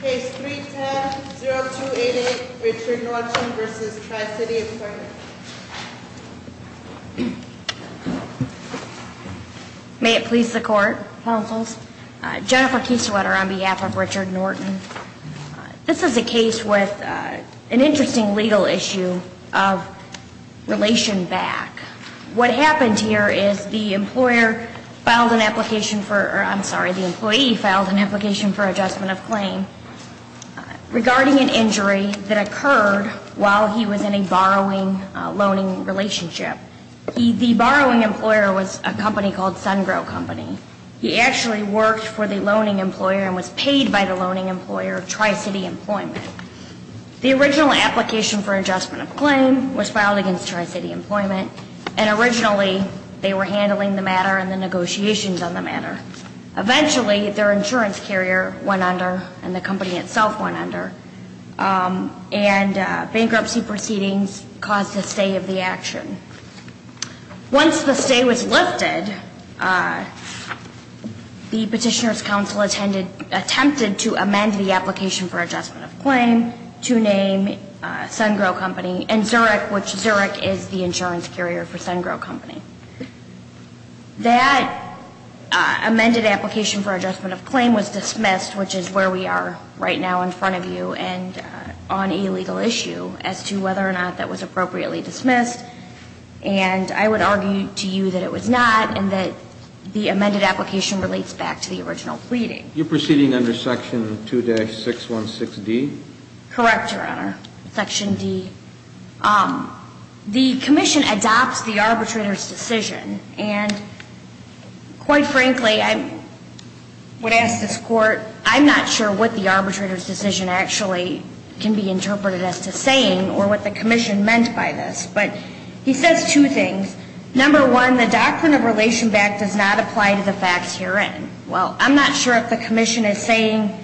Case 310-0288, Richard Norton v. Tri-City Employment. May it please the Court, Counsels. Jennifer Kiesewetter on behalf of Richard Norton. This is a case with an interesting legal issue of relation back. What happened here is the employee filed an application for adjustment of claim regarding an injury that occurred while he was in a borrowing-loaning relationship. The borrowing employer was a company called SunGrow Company. He actually worked for the loaning employer and was paid by the loaning employer, Tri-City Employment. The original application for adjustment of claim was filed against Tri-City Employment, and originally they were handling the matter and the negotiations on the matter. Eventually, their insurance carrier went under and the company itself went under, and bankruptcy proceedings caused a stay of the action. Once the stay was lifted, the Petitioners' Counsel attempted to amend the application for adjustment of claim to name SunGrow Company and Zurich, which Zurich is the insurance carrier for SunGrow Company. That amended application for adjustment of claim was dismissed, which is where we are right now in front of you and on a legal issue as to whether or not that was appropriately dismissed. And I would argue to you that it was not and that the amended application relates back to the original pleading. You're proceeding under Section 2-616D? Correct, Your Honor. Section D. The Commission adopts the arbitrator's decision, and quite frankly, I would ask this Court, I'm not sure what the arbitrator's decision actually can be interpreted as to saying or what the Commission meant by this. But he says two things. Number one, the doctrine of relation back does not apply to the facts herein. Well, I'm not sure if the Commission is saying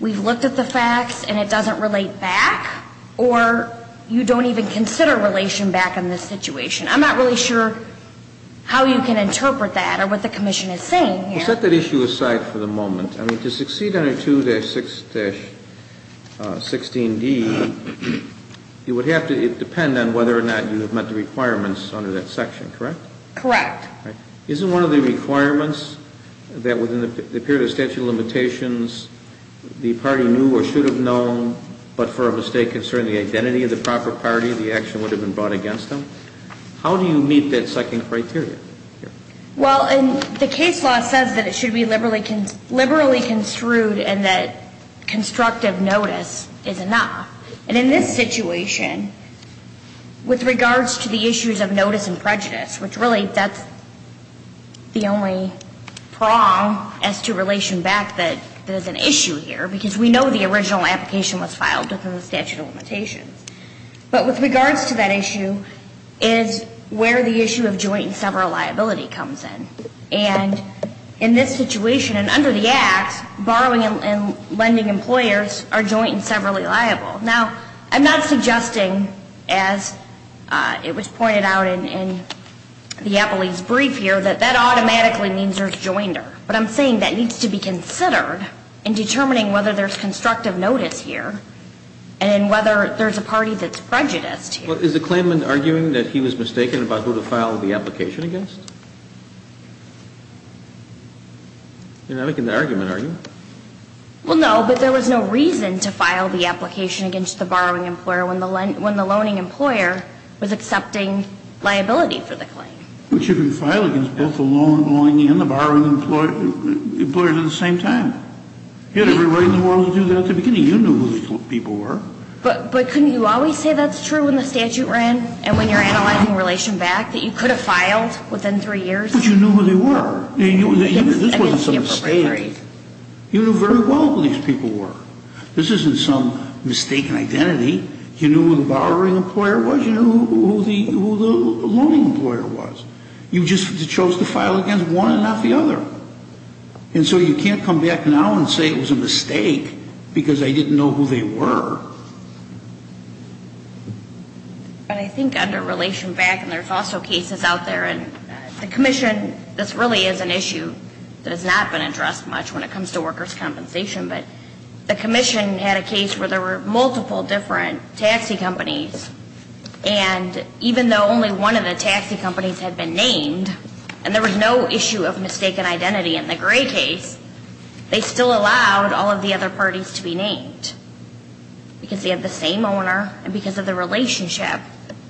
we've looked at the facts and it doesn't relate back, or you don't even consider relation back in this situation. I'm not really sure how you can interpret that or what the Commission is saying here. Well, set that issue aside for the moment. I mean, to succeed under 2-616D, it would have to depend on whether or not you have met the requirements under that section, correct? Correct. Isn't one of the requirements that within the period of statute of limitations, the party knew or should have known, but for a mistake concerning the identity of the proper party, the action would have been brought against them? How do you meet that second criteria? Well, the case law says that it should be liberally construed and that constructive notice is enough. And in this situation, with regards to the issues of notice and prejudice, which really that's the only prong as to relation back that there's an issue here, because we know the original application was filed under the statute of limitations. But with regards to that issue is where the issue of joint and several liability comes in. And in this situation, and under the Act, borrowing and lending employers are joint and severally liable. Now, I'm not suggesting, as it was pointed out in the Appellee's Brief here, that that automatically means there's joinder. But I'm saying that needs to be considered in determining whether there's constructive notice here and whether there's a party that's prejudiced here. Is the claimant arguing that he was mistaken about who to file the application against? You're not making the argument, are you? Well, no, but there was no reason to file the application against the borrowing employer when the loaning employer was accepting liability for the claim. But you can file against both the loan and the borrowing employer at the same time. You had every right in the world to do that at the beginning. You knew who these people were. But couldn't you always say that's true when the statute ran and when you're analyzing relation back that you could have filed within three years? But you knew who they were. This wasn't some mistake. You knew very well who these people were. This isn't some mistaken identity. You knew who the borrowing employer was. You knew who the loaning employer was. You just chose to file against one and not the other. And so you can't come back now and say it was a mistake because I didn't know who they were. But I think under relation back, and there's also cases out there, and the commission, this really is an issue that has not been addressed much when it comes to workers' compensation. But the commission had a case where there were multiple different taxi companies. And even though only one of the taxi companies had been named, and there was no issue of mistaken identity in the Gray case, they still allowed all of the other parties to be named because they had the same owner and because of the relationship.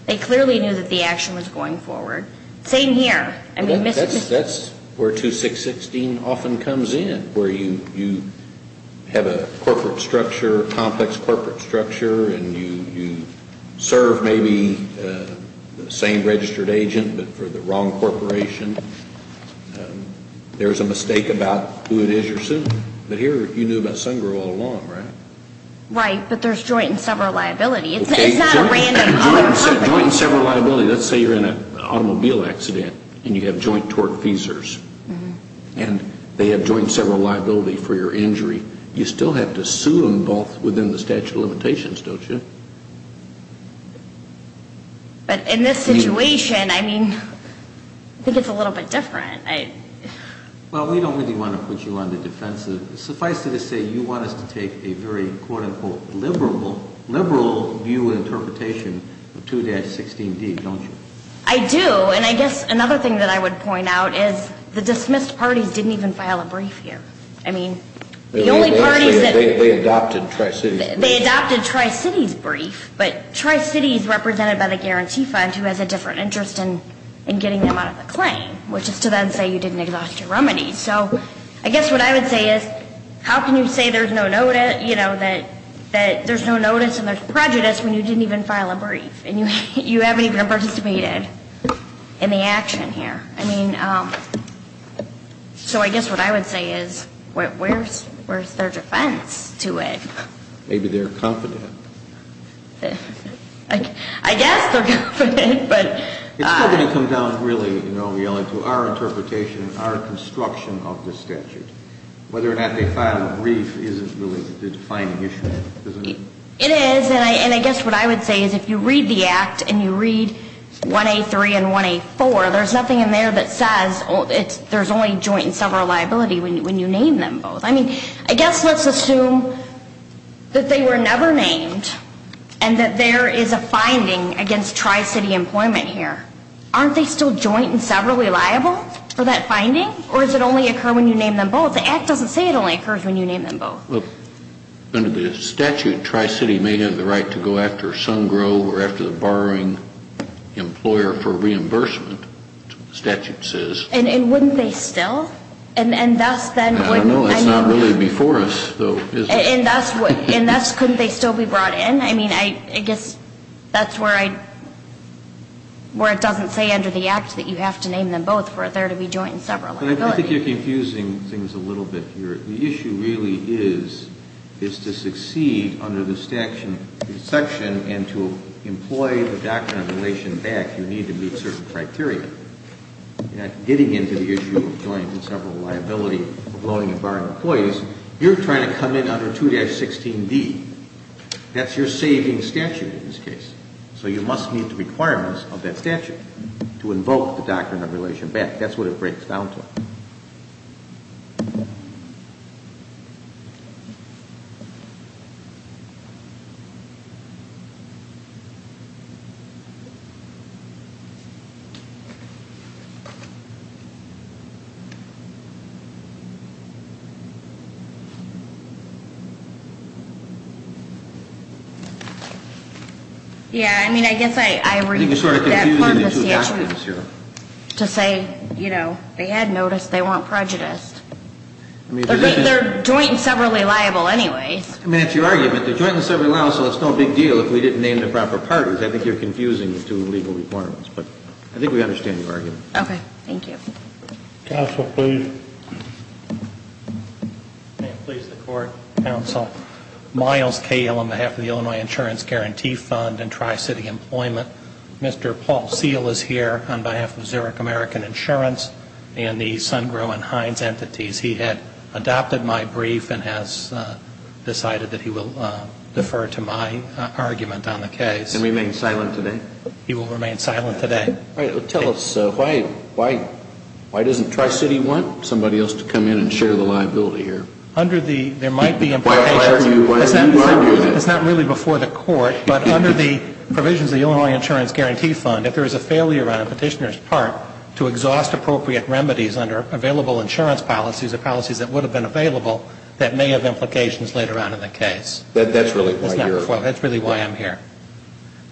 They clearly knew that the action was going forward. Same here. That's where 2616 often comes in, where you have a corporate structure, complex corporate structure, and you serve maybe the same registered agent but for the wrong corporation. There's a mistake about who it is you're suing. But here you knew about Sun Grill all along, right? Right, but there's joint and several liability. It's not a random company. Joint and several liability. Let's say you're in an automobile accident and you have joint torque feasors. And they have joint and several liability for your injury. You still have to sue them both within the statute of limitations, don't you? But in this situation, I mean, I think it's a little bit different. Well, we don't really want to put you on the defensive. Suffice it to say, you want us to take a very, quote-unquote, liberal view and interpretation of 2-16D, don't you? I do. And I guess another thing that I would point out is the dismissed parties didn't even file a brief here. I mean, the only parties that ---- They adopted Tri-Cities. They adopted Tri-Cities' brief. But Tri-Cities represented by the guarantee fund who has a different interest in getting them out of the claim, which is to then say you didn't exhaust your remedies. So I guess what I would say is how can you say there's no notice and there's prejudice when you didn't even file a brief and you haven't even participated in the action here? I mean, so I guess what I would say is where's their defense to it? Maybe they're confident. I guess they're confident, but ---- It's still going to come down really, you know, Yellen, to our interpretation and our construction of the statute. Whether or not they filed a brief isn't really the defining issue, isn't it? It is. And I guess what I would say is if you read the Act and you read 1A3 and 1A4, there's nothing in there that says there's only joint and several liability when you name them both. I mean, I guess let's assume that they were never named and that there is a finding against Tri-City employment here. Aren't they still joint and several reliable for that finding? Or does it only occur when you name them both? The Act doesn't say it only occurs when you name them both. Under the statute, Tri-City may have the right to go after Sun Grove or after the borrowing employer for reimbursement, the statute says. And wouldn't they still? I don't know. It's not really before us, though, is it? And thus couldn't they still be brought in? I mean, I guess that's where it doesn't say under the Act that you have to name them both for there to be joint and several liability. I think you're confusing things a little bit here. The issue really is to succeed under the section and to employ the doctrine of relation back, you need to meet certain criteria. You're not getting into the issue of joint and several liability of loaning and borrowing employees. You're trying to come in under 2-16D. That's your saving statute in this case. So you must meet the requirements of that statute to invoke the doctrine of relation back. That's what it breaks down to. Yeah, I mean, I guess I read that part of the statute to say, you know, they had noticed they weren't prejudiced. But they're joint and severally liable anyways. I mean, it's your argument. They're joint and severally liable, so it's no big deal if we didn't name the proper parties. I think you're confusing the two legal requirements. But I think we understand your point. Okay. Thank you. Counsel, please. May it please the Court. Counsel. Miles Kael on behalf of the Illinois Insurance Guarantee Fund and Tri-City Employment. Mr. Paul Seale is here on behalf of Zurich American Insurance and the SunGro and Heinz entities. He had adopted my brief and has decided that he will defer to my argument on the case. And remain silent today? He will remain silent today. All right. Tell us, why doesn't Tri-City want somebody else to come in and share the liability here? Under the, there might be implications. Why are you arguing that? It's not really before the Court, but under the provisions of the Illinois Insurance Guarantee Fund, if there is a failure on a petitioner's part to exhaust appropriate remedies under available insurance policies or policies that would have been available, that may have implications later on in the case. That's really why you're here. That's really why I'm here.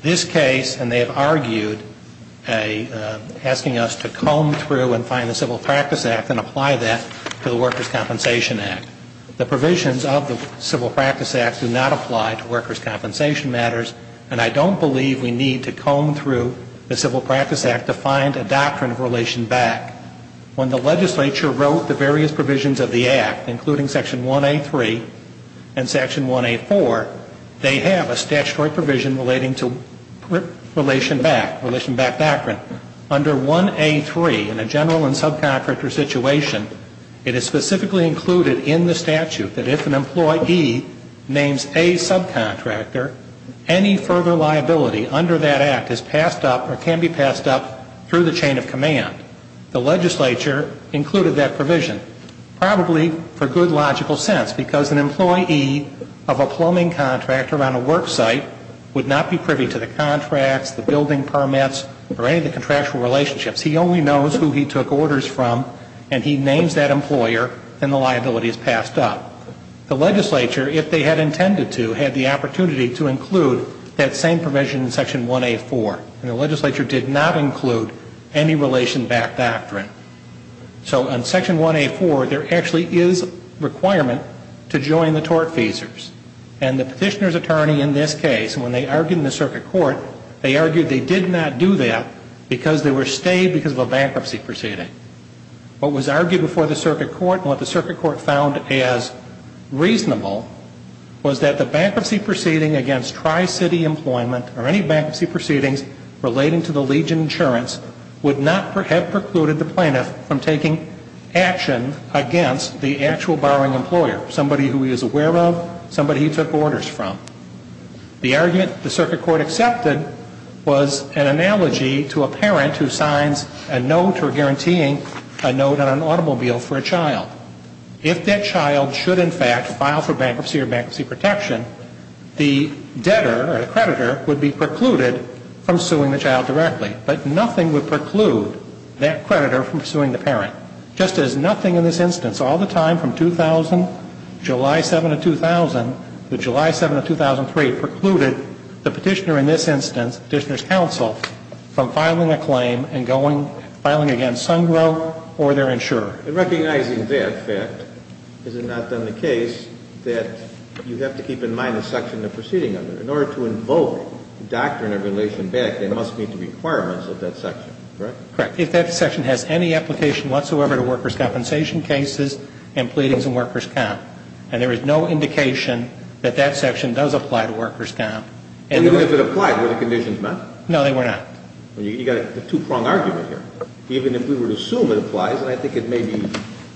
This case, and they have argued, asking us to comb through and find the Civil Practice Act and apply that to the Workers' Compensation Act. The provisions of the Civil Practice Act do not apply to workers' compensation matters, and I don't believe we need to comb through the Civil Practice Act to find a doctrine of relation back. When the legislature wrote the various provisions of the Act, including Section 1A3 and Section 1A4, they have a statutory provision relating to relation back, relation back doctrine. Under 1A3, in a general and subcontractor situation, it is specifically included in the statute that if an employee names a subcontractor, any further liability under that Act is passed up or can be passed up through the chain of command. The legislature included that provision, probably for good logical sense, because an employee of a plumbing contractor on a work site would not be privy to the contracts, the building permits, or any of the contractual relationships. He only knows who he took orders from, and he names that employer, and the liability is passed up. The legislature, if they had intended to, had the opportunity to include that same provision in Section 1A4, and the legislature did not include any relation back doctrine. So in Section 1A4, there actually is a requirement to join the tortfeasors, and the petitioner's attorney in this case, when they argued in the circuit court, they argued they did not do that because they were stayed because of a bankruptcy proceeding. What was argued before the circuit court and what the circuit court found as reasonable was that the bankruptcy proceeding against Tri-City Employment or any bankruptcy proceedings relating to the Legion insurance would not have precluded the plaintiff from taking action against the actual borrowing employer, somebody who he is aware of, somebody he took orders from. The argument the circuit court accepted was an analogy to a parent who signs a note or guaranteeing a note on an automobile for a child. If that child should, in fact, file for bankruptcy or bankruptcy protection, the debtor or the creditor would be precluded from suing the child directly, but nothing would preclude that creditor from suing the parent. Just as nothing in this instance, all the time from 2000, July 7 of 2000 to July 7 of 2003, precluded the petitioner in this instance, petitioner's counsel, from filing a claim and going, filing against Sungrove or their insurer. And recognizing that fact, is it not, then, the case that you have to keep in mind the section of the proceeding under it? In order to invoke the doctrine of relation back, there must meet the requirements of that section, correct? Correct. If that section has any application whatsoever to workers' compensation cases and pleadings in workers' comp, and there is no indication that that section does apply to workers' comp. And even if it applied, were the conditions met? No, they were not. You've got a two-prong argument here. Even if we would assume it applies, and I think it may be,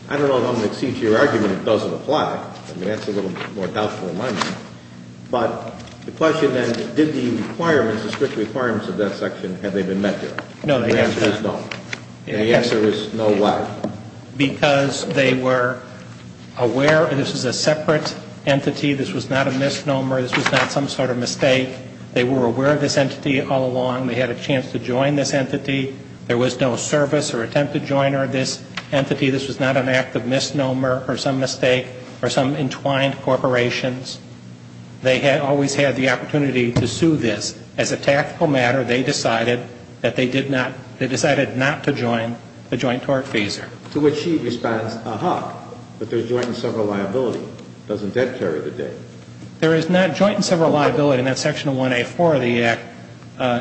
I don't know if I'm going to accede to your argument, it doesn't apply. I mean, that's a little more doubtful in my mind. But the question, then, did the requirements, the strict requirements of that section, have they been met there? No, they have not. The answer is no. The answer is no, why? Because they were aware this is a separate entity, this was not a misnomer, this was not some sort of mistake. They were aware of this entity all along. They had a chance to join this entity. There was no service or attempt to join this entity. This was not an act of misnomer or some mistake or some entwined corporations. They had always had the opportunity to sue this. As a tactical matter, they decided that they did not, they decided not to join the joint tortfeasor. To which she responds, aha, but there's joint and several liability. Doesn't that carry the day? There is not joint and several liability. And that Section 1A4 of the Act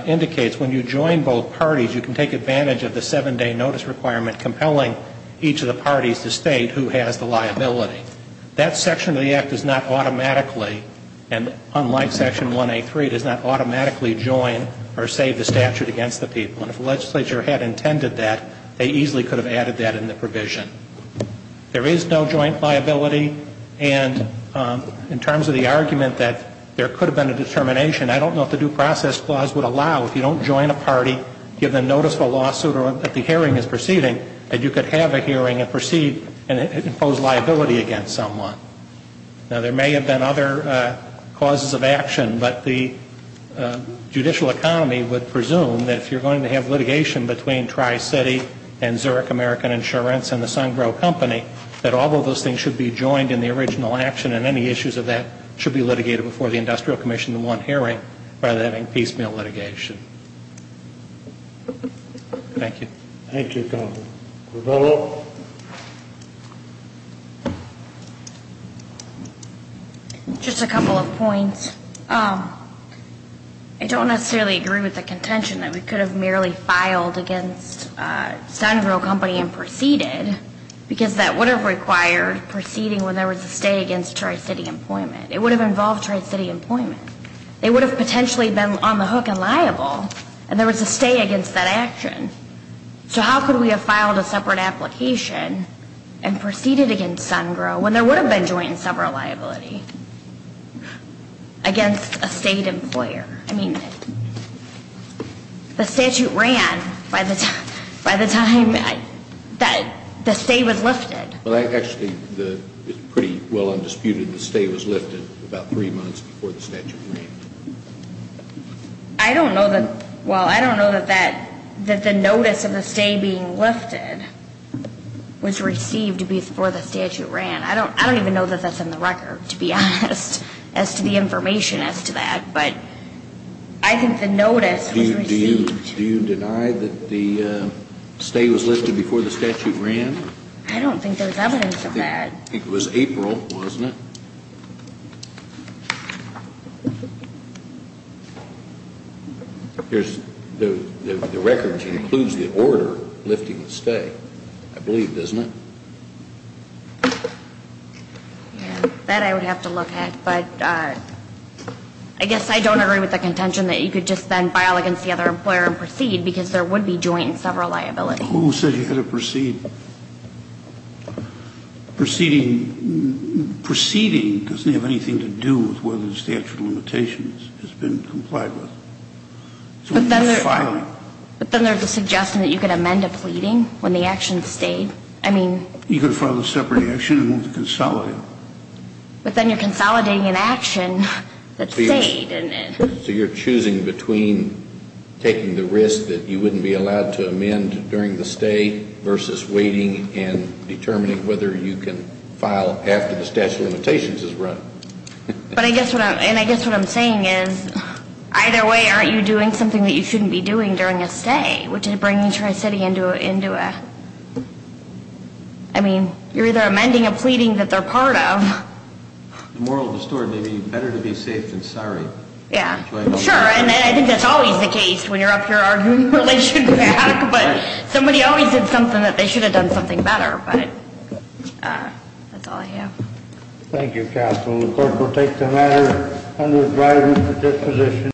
indicates when you join both parties, you can take advantage of the seven-day notice requirement compelling each of the parties to state who has the liability. That section of the Act does not automatically, and unlike Section 1A3, does not automatically join or save the statute against the people. And if the legislature had intended that, they easily could have added that in the provision. There is no joint liability. And in terms of the argument that there could have been a determination, I don't know if the due process clause would allow, if you don't join a party, give them notice of a lawsuit or that the hearing is proceeding, that you could have a hearing and proceed and impose liability against someone. Now, there may have been other causes of action, but the judicial economy would presume that if you're going to have litigation between Tri-City and Zurich American Insurance and the Sungrove Company, that all of those things should be joined in the original action and any issues of that should be litigated before the Industrial Commission in one hearing rather than having piecemeal litigation. Thank you. Thank you, counsel. Revella. Just a couple of points. I don't necessarily agree with the contention that we could have merely filed against Sungrove Company and proceeded because that would have required proceeding when there was a stay against Tri-City Employment. It would have involved Tri-City Employment. They would have potentially been on the hook and liable, and there was a stay against that action. So how could we have filed a separate application and proceeded against Sungrove when there would have been joint and several liability against a state employer? I mean, the statute ran by the time that the stay was lifted. Well, actually, it's pretty well undisputed the stay was lifted about three months before the statute ran. I don't know that, well, I don't know that the notice of the stay being lifted was received before the statute ran. I don't even know that that's in the record, to be honest, as to the information as to that, but I think the notice was received. Do you deny that the stay was lifted before the statute ran? I don't think there's evidence of that. It was April, wasn't it? The record includes the order lifting the stay, I believe, doesn't it? Yeah, that I would have to look at, but I guess I don't agree with the contention that you could just then file against the other employer and proceed, because there would be joint and several liability. Who said you had to proceed? Proceeding doesn't have anything to do with whether the statute of limitations has been complied with. It's only filing. But then there's a suggestion that you could amend a pleading when the action stayed. You could file a separate action and consolidate it. But then you're consolidating an action that stayed. So you're choosing between taking the risk that you wouldn't be allowed to amend during the stay versus waiting and determining whether you can file after the statute of limitations has run. And I guess what I'm saying is either way aren't you doing something that you I mean, you're either amending a pleading that they're part of. The moral of the story may be better to be safe than sorry. Yeah. Sure. And I think that's always the case when you're up here arguing relations back. But somebody always did something that they should have done something better. But that's all I have. Thank you, Counsel. The court will take the matter under its rightful disposition.